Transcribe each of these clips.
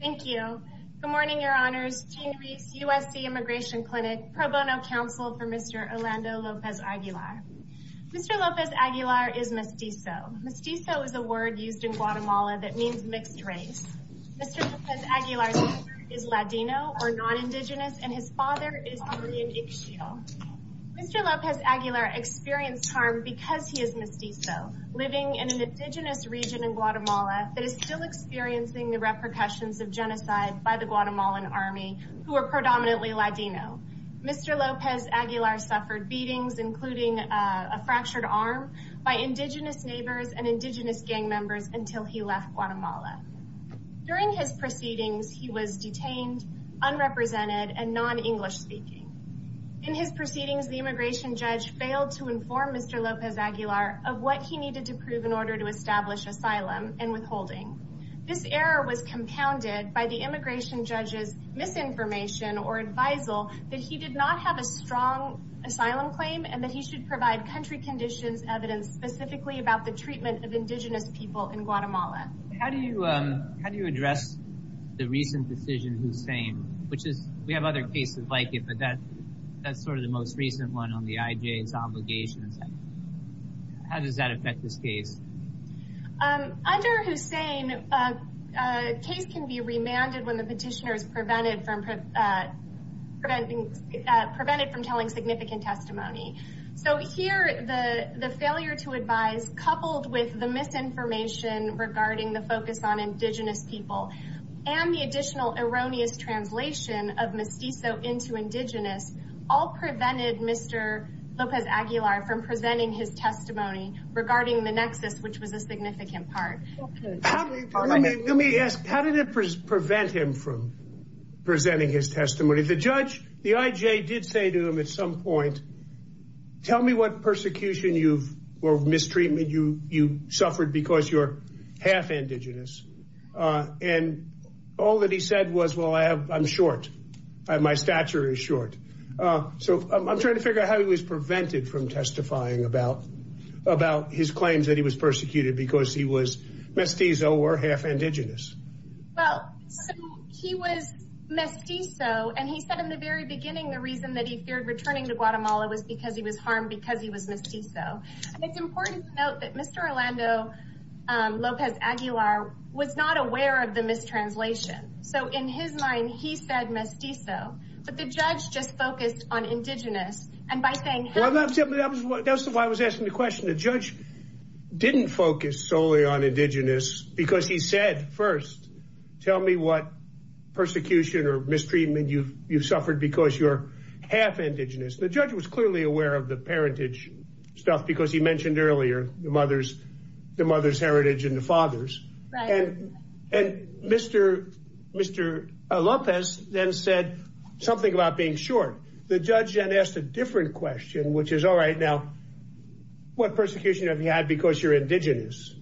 Thank you. Good morning, Your Honors. Jean Gris, USC Immigration Clinic, Pro Bono Counsel for Mr. Orlando Lopez-Aguilar. Mr. Lopez-Aguilar is mestizo. Mestizo is a word used in Guatemala that means mixed race. Mr. Lopez-Aguilar's father is Ladino, or non-Indigenous, and his father is Colombian Ixchil. Mr. Lopez-Aguilar experienced harm because he is mestizo, living in an Indigenous region in Guatemala that is still experiencing the repercussions of genocide by the Guatemalan army, who are predominantly Ladino. Mr. Lopez-Aguilar suffered beatings, including a fractured arm, by Indigenous neighbors and Indigenous gang members until he left Guatemala. During his proceedings, he was detained, unrepresented, and non-English speaking. In his proceedings, the immigration judge failed to inform Mr. Lopez-Aguilar of what he needed to prove in order to establish asylum and withholding. This error was compounded by the immigration judge's misinformation or advisal that he did not have a strong asylum claim and that he should provide country conditions evidence specifically about the treatment of Indigenous people in Guatemala. How do you address the recent decision, Hussein? We have other cases like it, but that's sort of the most recent one on the IJ's obligations. How does that affect this case? Under Hussein, a case can be remanded when the petitioner is prevented from telling significant testimony. So here, the failure to advise coupled with the misinformation regarding the focus on Indigenous people and the additional erroneous translation of mestizo into Indigenous all prevented Mr. Lopez-Aguilar from presenting his testimony regarding the nexus, which was a significant part. Let me ask, how did it prevent him from presenting his testimony? The judge, the IJ, did say to him at some point, tell me what persecution or mistreatment you suffered because you're half Indigenous. And all that he said was, well, I'm short. My stature is short. So I'm trying to figure out how he was prevented from testifying about his claims that he was persecuted because he was mestizo or half Indigenous. Well, so he was mestizo and he said in the very beginning, the reason that he feared returning to Guatemala was because he was harmed because he was mestizo. And it's important to note that Mr. Orlando Lopez-Aguilar was not aware of the mistranslation. So in his mind, he said mestizo, but the judge just focused on Indigenous. Well, that's why I was asking the question. The judge didn't focus solely on Indigenous because he said, first, tell me what persecution or mistreatment you've suffered because you're half Indigenous. The judge was clearly aware of the parentage stuff because he mentioned earlier the mother's heritage and the father's. And Mr. Lopez then said something about being short. The judge then asked a different question, which is, all right, now, what persecution have you had because you're Indigenous?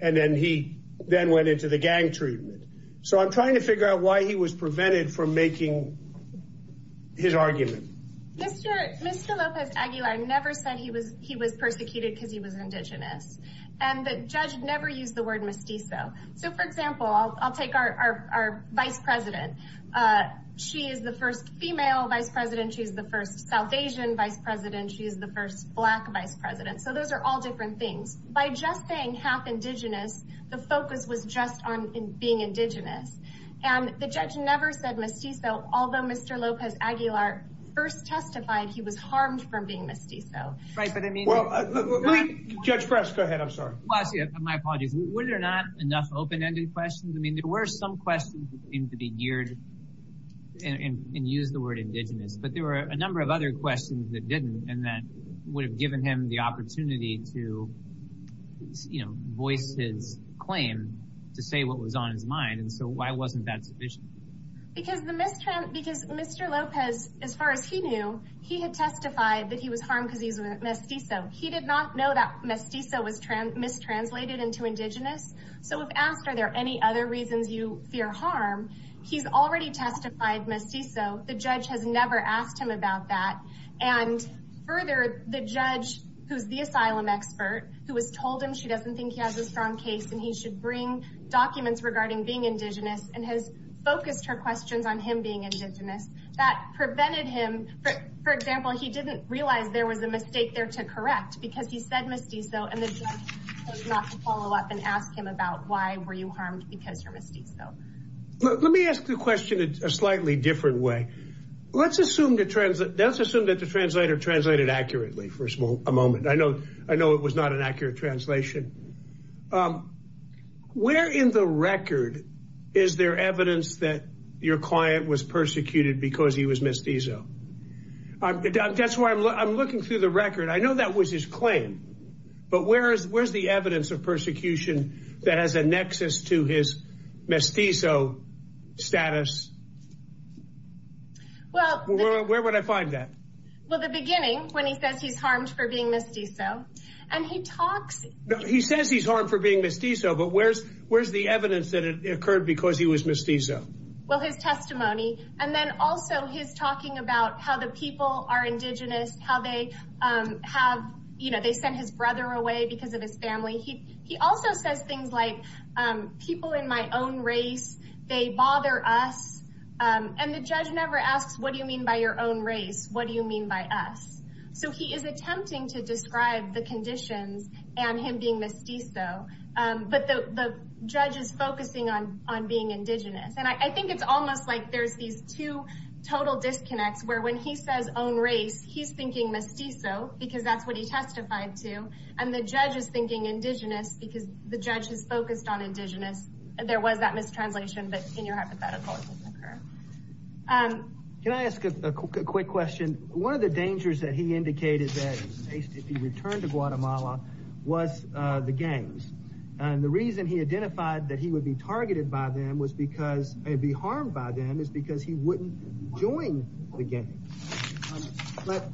And then he then went into the gang treatment. So I'm trying to figure out why he was prevented from making his argument. Mr. Lopez-Aguilar never said he was persecuted because he was Indigenous. And the judge never used the word mestizo. So, for example, I'll take our vice president. She is the first female vice president. She's the first South Asian vice president. She is the first black vice president. So those are all different things. By just being half Indigenous, the focus was just on being Indigenous. And the judge never said mestizo, although Mr. Lopez-Aguilar first testified he was harmed from being mestizo. Right. But, I mean. Well, Judge Press, go ahead. I'm sorry. My apologies. Were there not enough open-ended questions? I mean, there were some questions that seemed to be geared and used the word Indigenous. But there were a number of other questions that didn't and that would have given him the opportunity to, you know, voice his claim to say what was on his mind. And so, why wasn't that sufficient? Because Mr. Lopez, as far as he knew, he had testified that he was harmed because he was mestizo. He did not know that mestizo was mistranslated into Indigenous. So, if asked, are there any other reasons you fear harm? He's already testified mestizo. The judge has never asked him about that. And further, the judge, who's the asylum expert, who was told him she doesn't think he has a strong case and he should bring documents regarding being Indigenous, and has focused her questions on him being Indigenous, that prevented him. For example, he didn't realize there was a mistake there to correct because he said mestizo. And the judge chose not to follow up and ask him about why were you harmed because you're mestizo. Let me ask the question a slightly different way. Let's assume that the translator translated accurately for a moment. I know it was not an accurate translation. Where in the record is there evidence that your client was persecuted because he was mestizo? I know that was his claim, but where's the evidence of persecution that has a nexus to his mestizo status? Where would I find that? Well, the beginning, when he says he's harmed for being mestizo. He says he's harmed for being mestizo, but where's the evidence that it occurred because he was mestizo? Well, his testimony, and then also his talking about how the people are Indigenous, how they sent his brother away because of his family. He also says things like, people in my own race, they bother us. And the judge never asks, what do you mean by your own race? What do you mean by us? So he is attempting to describe the conditions and him being mestizo, but the judge is focusing on being Indigenous. And I think it's almost like there's these two total disconnects where when he says own race, he's thinking mestizo because that's what he testified to. And the judge is thinking Indigenous because the judge is focused on Indigenous. There was that mistranslation, but in your hypothetical, it doesn't occur. Can I ask a quick question? One of the dangers that he indicated that if he returned to Guatemala was the gangs. And the reason he identified that he would be targeted by them was because, be harmed by them, is because he wouldn't join the gangs. But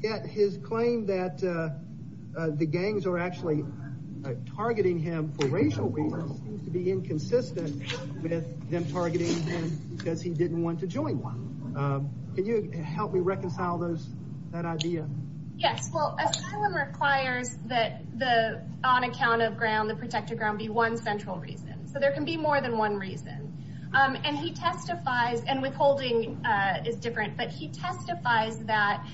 yet his claim that the gangs are actually targeting him for racial reasons seems to be inconsistent with them targeting him because he didn't want to join one. Can you help me reconcile that idea? Yes, well, asylum requires that the on account of ground, the protected ground, be one central reason. So there can be more than one reason. And he testifies, and withholding is different, but he testifies that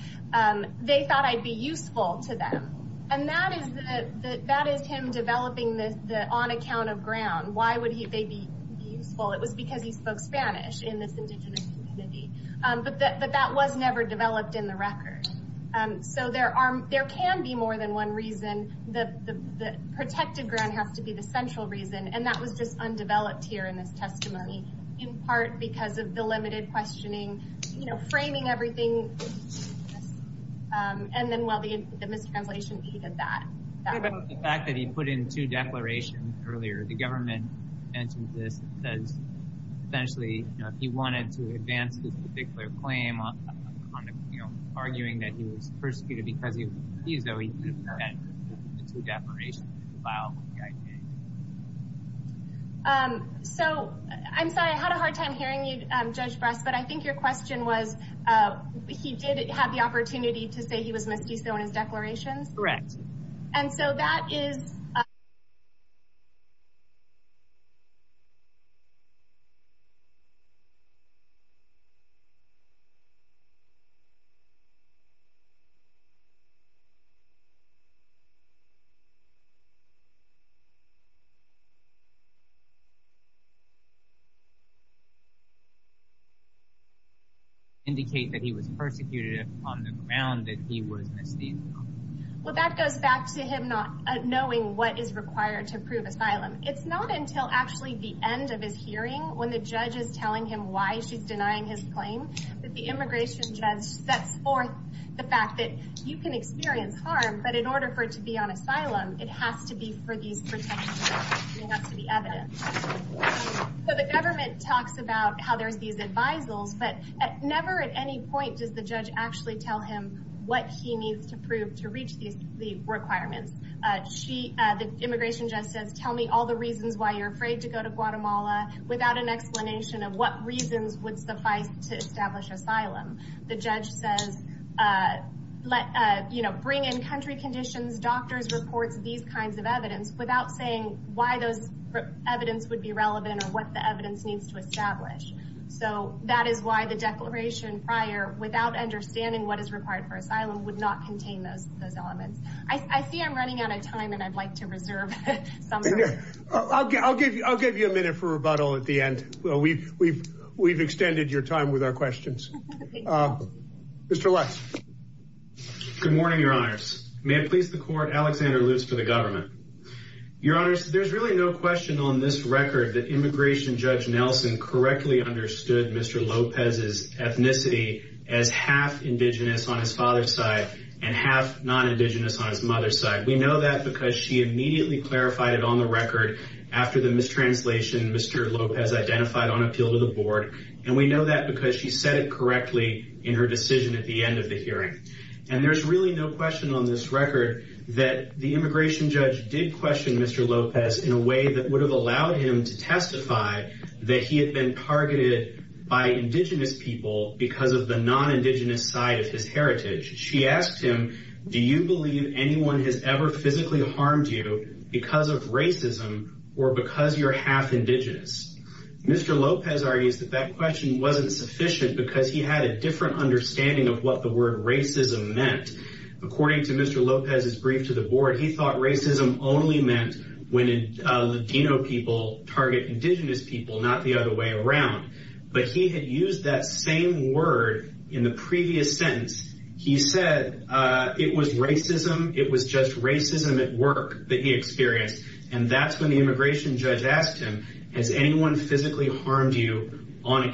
they thought I'd be useful to them. And that is him developing the on account of ground. Why would they be useful? It was because he spoke Spanish in this Indigenous community. But that was never developed in the record. So there can be more than one reason. The protected ground has to be the central reason. And that was just undeveloped here in this testimony, in part because of the limited questioning, you know, framing everything. And then, well, the mistranslation, he did that. The fact that he put in two declarations earlier. The government mentions this and says, essentially, you know, if he wanted to advance this particular claim on, you know, arguing that he was persecuted because he refused, though, he could have put in the two declarations to file the IPA. So, I'm sorry, I had a hard time hearing you, Judge Bress, but I think your question was, he did have the opportunity to say he was Mestizo in his declarations? Correct. And so that is. Indicate that he was persecuted on the ground, that he was Mestizo. Well, that goes back to him not knowing what is required to prove asylum. It's not until actually the end of his hearing, when the judge is telling him why she's denying his claim, that the immigration judge sets forth the fact that you can experience harm, but in order for it to be on asylum, it has to be for these protections. It has to be evidence. The government talks about how there's these advisals, but never at any point does the judge actually tell him what he needs to prove to reach the requirements. The immigration judge says, tell me all the reasons why you're afraid to go to Guatemala without an explanation of what reasons would suffice to establish asylum. The judge says, bring in country conditions, doctors, reports, these kinds of evidence, without saying why those evidence would be relevant or what the evidence needs to establish. So that is why the declaration prior, without understanding what is required for asylum, would not contain those elements. I see I'm running out of time, and I'd like to reserve some. I'll give you a minute for rebuttal at the end. We've extended your time with our questions. Mr. Lutz. Good morning, Your Honors. May it please the court, Alexander Lutz for the government. Your Honors, there's really no question on this record that immigration judge Nelson correctly understood Mr. Lopez's ethnicity as half indigenous on his father's side and half non-indigenous on his mother's side. We know that because she immediately clarified it on the record after the mistranslation Mr. Lopez identified on appeal to the board. And we know that because she said it correctly in her decision at the end of the hearing. And there's really no question on this record that the immigration judge did question Mr. Lopez in a way that would have allowed him to testify that he had been targeted by indigenous people because of the non-indigenous side of his heritage. She asked him, do you believe anyone has ever physically harmed you because of racism or because you're half indigenous? Mr. Lopez argues that that question wasn't sufficient because he had a different understanding of what the word racism meant. According to Mr. Lopez's brief to the board, he thought racism only meant when Latino people target indigenous people, not the other way around. But he had used that same word in the previous sentence. He said it was racism. It was just racism at work that he experienced. And that's when the immigration judge asked him, has anyone physically harmed you because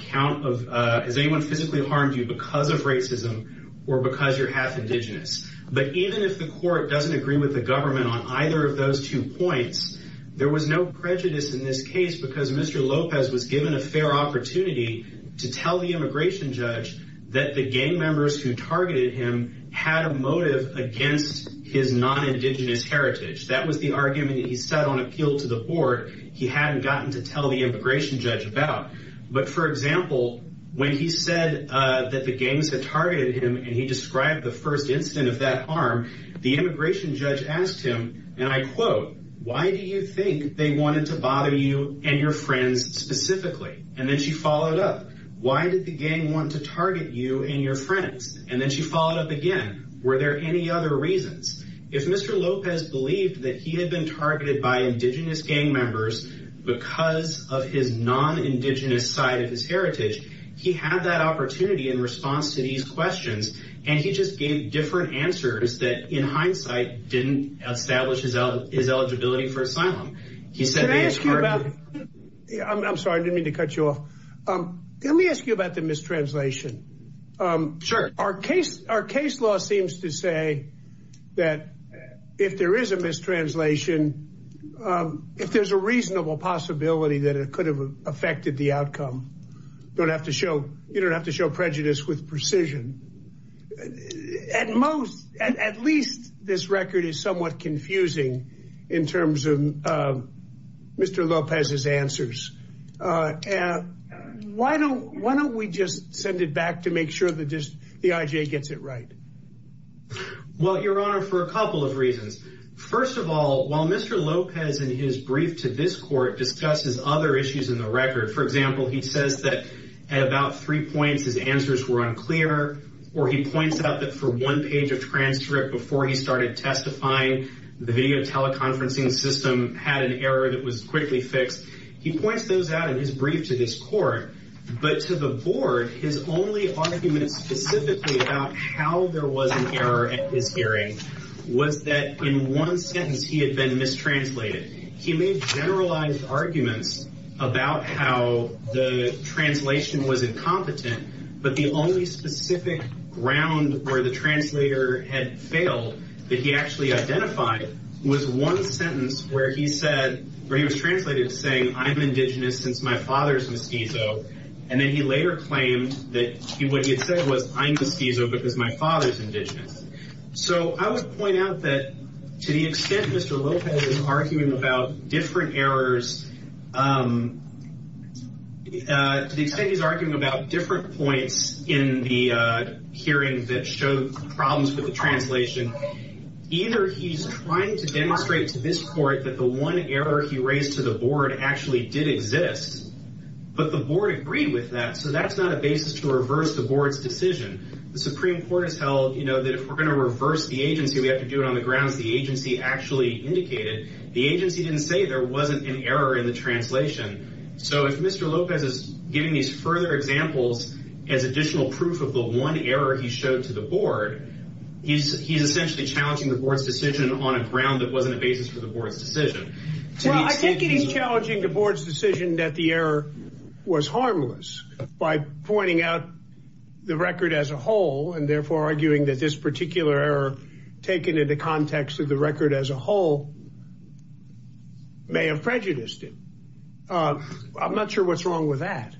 of racism or because you're half indigenous? But even if the court doesn't agree with the government on either of those two points, there was no prejudice in this case because Mr. Lopez was given a fair opportunity to tell the immigration judge that the gang members who targeted him had a motive against his non-indigenous heritage. That was the argument that he set on appeal to the board. He hadn't gotten to tell the immigration judge about. But, for example, when he said that the gangs had targeted him and he described the first incident of that harm, the immigration judge asked him, and I quote, why do you think they wanted to bother you and your friends specifically? And then she followed up. Why did the gang want to target you and your friends? And then she followed up again. Were there any other reasons? If Mr. Lopez believed that he had been targeted by indigenous gang members because of his non-indigenous side of his heritage, he had that opportunity in response to these questions. And he just gave different answers that, in hindsight, didn't establish his eligibility for asylum. He said. I'm sorry to cut you off. Let me ask you about the mistranslation. Sure. Our case, our case law seems to say that if there is a mistranslation, if there's a reasonable possibility that it could have affected the outcome. Don't have to show you don't have to show prejudice with precision. At most, at least this record is somewhat confusing in terms of Mr. Lopez's answers. Why don't why don't we just send it back to make sure that the IJ gets it right? Well, your honor, for a couple of reasons. First of all, while Mr. Lopez in his brief to this court discusses other issues in the record, for example, he says that at about three points, his answers were unclear. Or he points out that for one page of transcript before he started testifying, the video teleconferencing system had an error that was quickly fixed. He points those out in his brief to this court. But to the board, his only argument specifically about how there was an error in his hearing was that in one sentence he had been mistranslated. He made generalized arguments about how the translation was incompetent. But the only specific ground where the translator had failed that he actually identified was one sentence where he said or he was translated saying I'm indigenous since my father's mestizo. And then he later claimed that he would get said was I'm mestizo because my father's indigenous. So I would point out that to the extent Mr. Lopez is arguing about different errors. To the extent he's arguing about different points in the hearing that showed problems with the translation. Either he's trying to demonstrate to this court that the one error he raised to the board actually did exist. But the board agreed with that. So that's not a basis to reverse the board's decision. The Supreme Court has held, you know, that if we're going to reverse the agency, we have to do it on the grounds the agency actually indicated. The agency didn't say there wasn't an error in the translation. So if Mr. Lopez is giving these further examples as additional proof of the one error he showed to the board, he's essentially challenging the board's decision on a ground that wasn't a basis for the board's decision. I think it is challenging the board's decision that the error was harmless by pointing out the record as a whole and therefore arguing that this particular error taken into context of the record as a whole may have prejudiced it. I'm not sure what's wrong with that.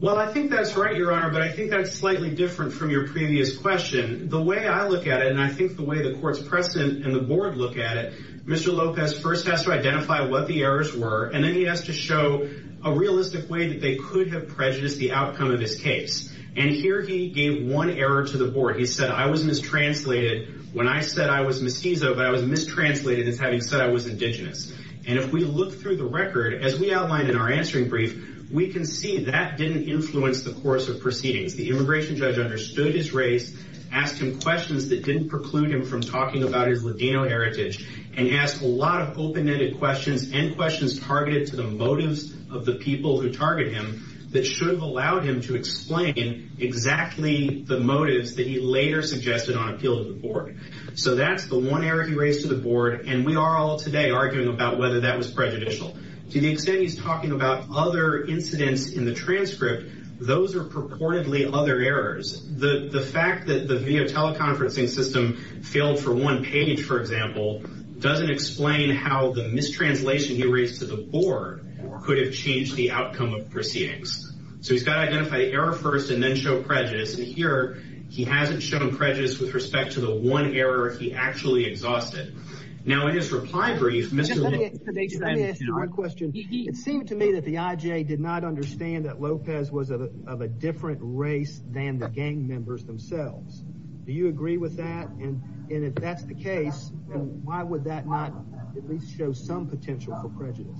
Well, I think that's right, Your Honor. But I think that's slightly different from your previous question. The way I look at it, and I think the way the court's precedent and the board look at it, Mr. Lopez first has to identify what the errors were, and then he has to show a realistic way that they could have prejudiced the outcome of his case. And here he gave one error to the board. He said, I was mistranslated when I said I was mestizo, but I was mistranslated as having said I was indigenous. And if we look through the record, as we outlined in our answering brief, we can see that didn't influence the course of proceedings. The immigration judge understood his race, asked him questions that didn't preclude him from talking about his Ladino heritage, and asked a lot of open-ended questions and questions targeted to the motives of the people who target him that should have allowed him to explain exactly the motives that he later suggested on appeal to the board. So that's the one error he raised to the board, and we are all today arguing about whether that was prejudicial. To the extent he's talking about other incidents in the transcript, those are purportedly other errors. The fact that the video teleconferencing system failed for one page, for example, doesn't explain how the mistranslation he raised to the board could have changed the outcome of proceedings. So he's got to identify the error first and then show prejudice, and here he hasn't shown prejudice with respect to the one error he actually exhausted. Now, in his reply brief, Mr. Lopez... Let me ask you a question. It seemed to me that the IJA did not understand that Lopez was of a different race than the gang members themselves. Do you agree with that? And if that's the case, why would that not at least show some potential for prejudice?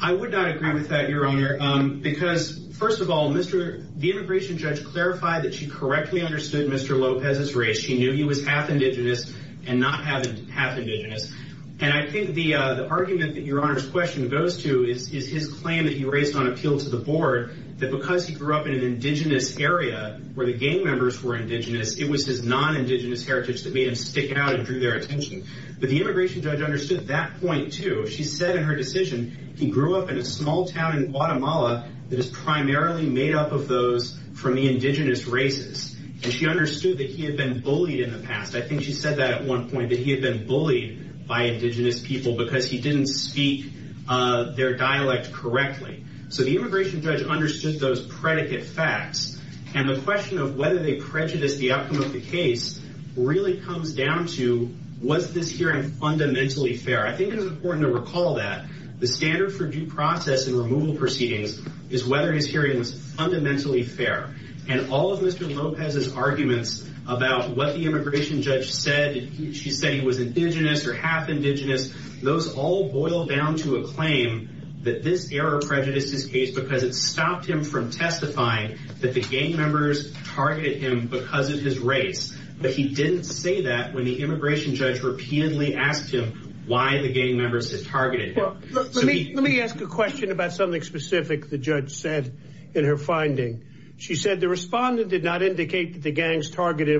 I would not agree with that, Your Honor, because, first of all, the immigration judge clarified that she correctly understood Mr. Lopez's race. She knew he was half indigenous and not half indigenous, and I think the argument that Your Honor's question goes to is his claim that he raised on appeal to the board that because he grew up in an indigenous area where the gang members were indigenous, it was his non-indigenous heritage that made him stick out and drew their attention. But the immigration judge understood that point, too. She said in her decision he grew up in a small town in Guatemala that is primarily made up of those from the indigenous races, and she understood that he had been bullied in the past. I think she said that at one point, that he had been bullied by indigenous people because he didn't speak their dialect correctly. So the immigration judge understood those predicate facts, and the question of whether they prejudiced the outcome of the case really comes down to, was this hearing fundamentally fair? I think it is important to recall that the standard for due process in removal proceedings is whether his hearing was fundamentally fair. And all of Mr. Lopez's arguments about what the immigration judge said, she said he was indigenous or half indigenous, those all boil down to a claim that this error prejudiced his case because it stopped him from testifying that the gang members targeted him because of his race. But he didn't say that when the immigration judge repeatedly asked him why the gang members had targeted him. Let me ask a question about something specific the judge said in her finding. She said the respondent did not indicate that the gangs targeted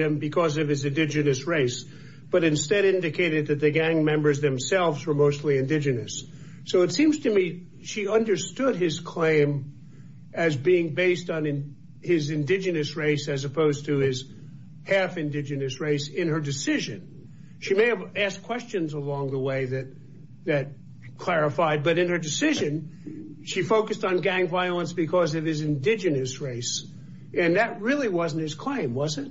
him because of his indigenous race, but instead indicated that the gang members themselves were mostly indigenous. So it seems to me she understood his claim as being based on his indigenous race as opposed to his half indigenous race in her decision. She may have asked questions along the way that clarified, but in her decision, she focused on gang violence because of his indigenous race. And that really wasn't his claim, was it?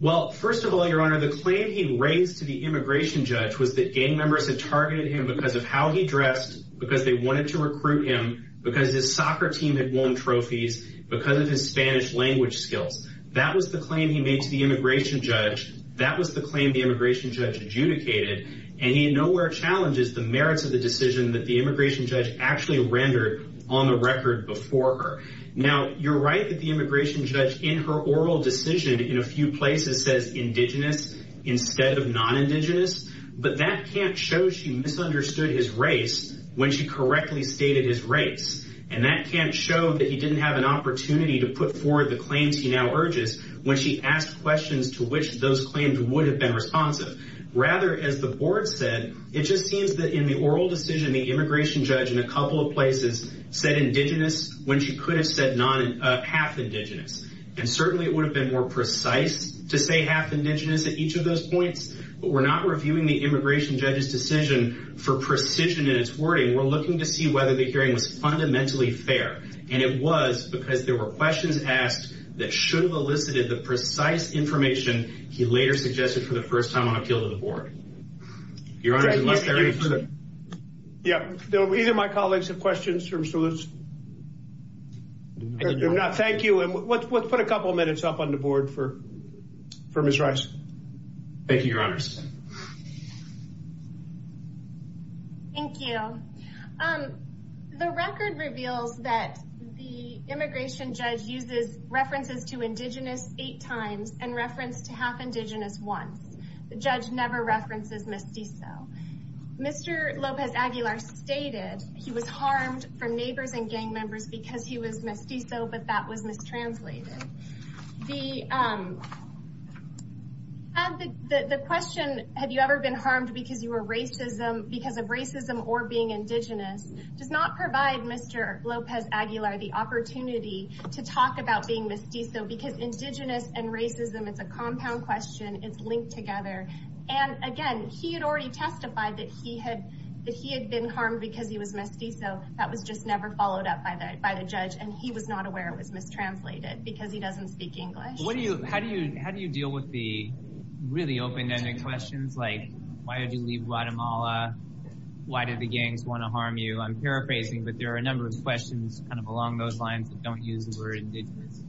Well, first of all, Your Honor, the claim he raised to the immigration judge was that gang members had targeted him because of how he dressed, because they wanted to recruit him, because his soccer team had won trophies, because of his Spanish language skills. That was the claim he made to the immigration judge. That was the claim the immigration judge adjudicated. And he nowhere challenges the merits of the decision that the immigration judge actually rendered on the record before her. Now, you're right that the immigration judge in her oral decision in a few places says indigenous instead of non-indigenous. But that can't show she misunderstood his race when she correctly stated his race. And that can't show that he didn't have an opportunity to put forward the claims he now urges when she asked questions to which those claims would have been responsive. Rather, as the board said, it just seems that in the oral decision, the immigration judge in a couple of places said indigenous when she could have said half indigenous. And certainly it would have been more precise to say half indigenous at each of those points. But we're not reviewing the immigration judge's decision for precision in its wording. We're looking to see whether the hearing was fundamentally fair. And it was because there were questions asked that should have elicited the precise information he later suggested for the first time on appeal to the board. Your Honor, unless there is. Yeah. Either my colleagues have questions in terms of this. I do not. Thank you. And let's put a couple of minutes up on the board for for Ms. Rice. Thank you, Your Honor. Thank you. The record reveals that the immigration judge uses references to indigenous eight times and reference to half indigenous once. The judge never references mestizo. Mr. Lopez Aguilar stated he was harmed from neighbors and gang members because he was mestizo, but that was mistranslated. The question, have you ever been harmed because you were racism because of racism or being indigenous? Does not provide Mr. Lopez Aguilar the opportunity to talk about being mestizo because indigenous and racism, it's a compound question. It's linked together. And again, he had already testified that he had that he had been harmed because he was mestizo. That was just never followed up by that by the judge. And he was not aware it was mistranslated because he doesn't speak English. What do you how do you how do you deal with the really open ended questions? Like, why did you leave Guatemala? Why did the gangs want to harm you? I'm paraphrasing, but there are a number of questions kind of along those lines that don't use the word indigenous.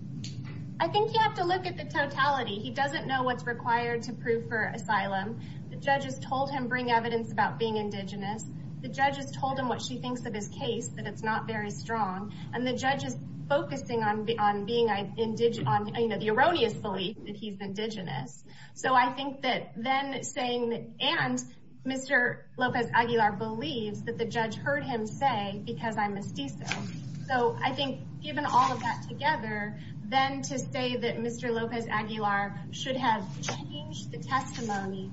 I think you have to look at the totality. He doesn't know what's required to prove for asylum. The judges told him bring evidence about being indigenous. The judges told him what she thinks of his case, that it's not very strong. And the judge is focusing on the on being indigenous on the erroneous belief that he's indigenous. So I think that then saying that and Mr. Lopez Aguilar believes that the judge heard him say because I'm mestizo. So I think given all of that together, then to say that Mr. Lopez Aguilar should have changed the testimony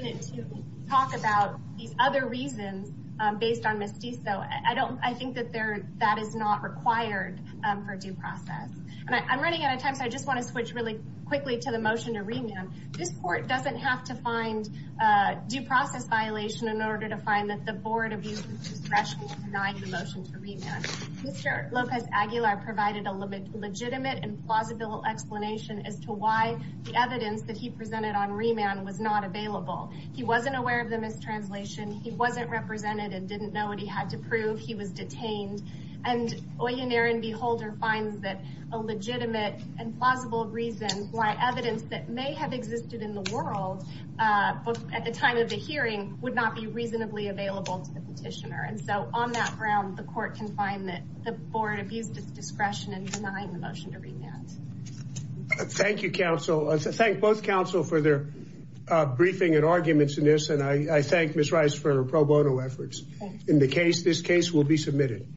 to talk about these other reasons based on mestizo. I don't I think that there that is not required for due process. And I'm running out of time, so I just want to switch really quickly to the motion to remand. This court doesn't have to find a due process violation in order to find that the board abused discretion to deny the motion to remand. Mr. Lopez Aguilar provided a legitimate and plausible explanation as to why the evidence that he presented on remand was not available. He wasn't aware of the mistranslation. He wasn't represented and didn't know what he had to prove. He was detained. And Oyunerin Beholder finds that a legitimate and plausible reason why evidence that may have existed in the world at the time of the hearing would not be reasonably available to the petitioner. And so on that ground, the court can find that the board abused its discretion in denying the motion to remand. Thank you, counsel. Thank both counsel for their briefing and arguments in this. And I thank Miss Rice for her pro bono efforts in the case. This case will be submitted.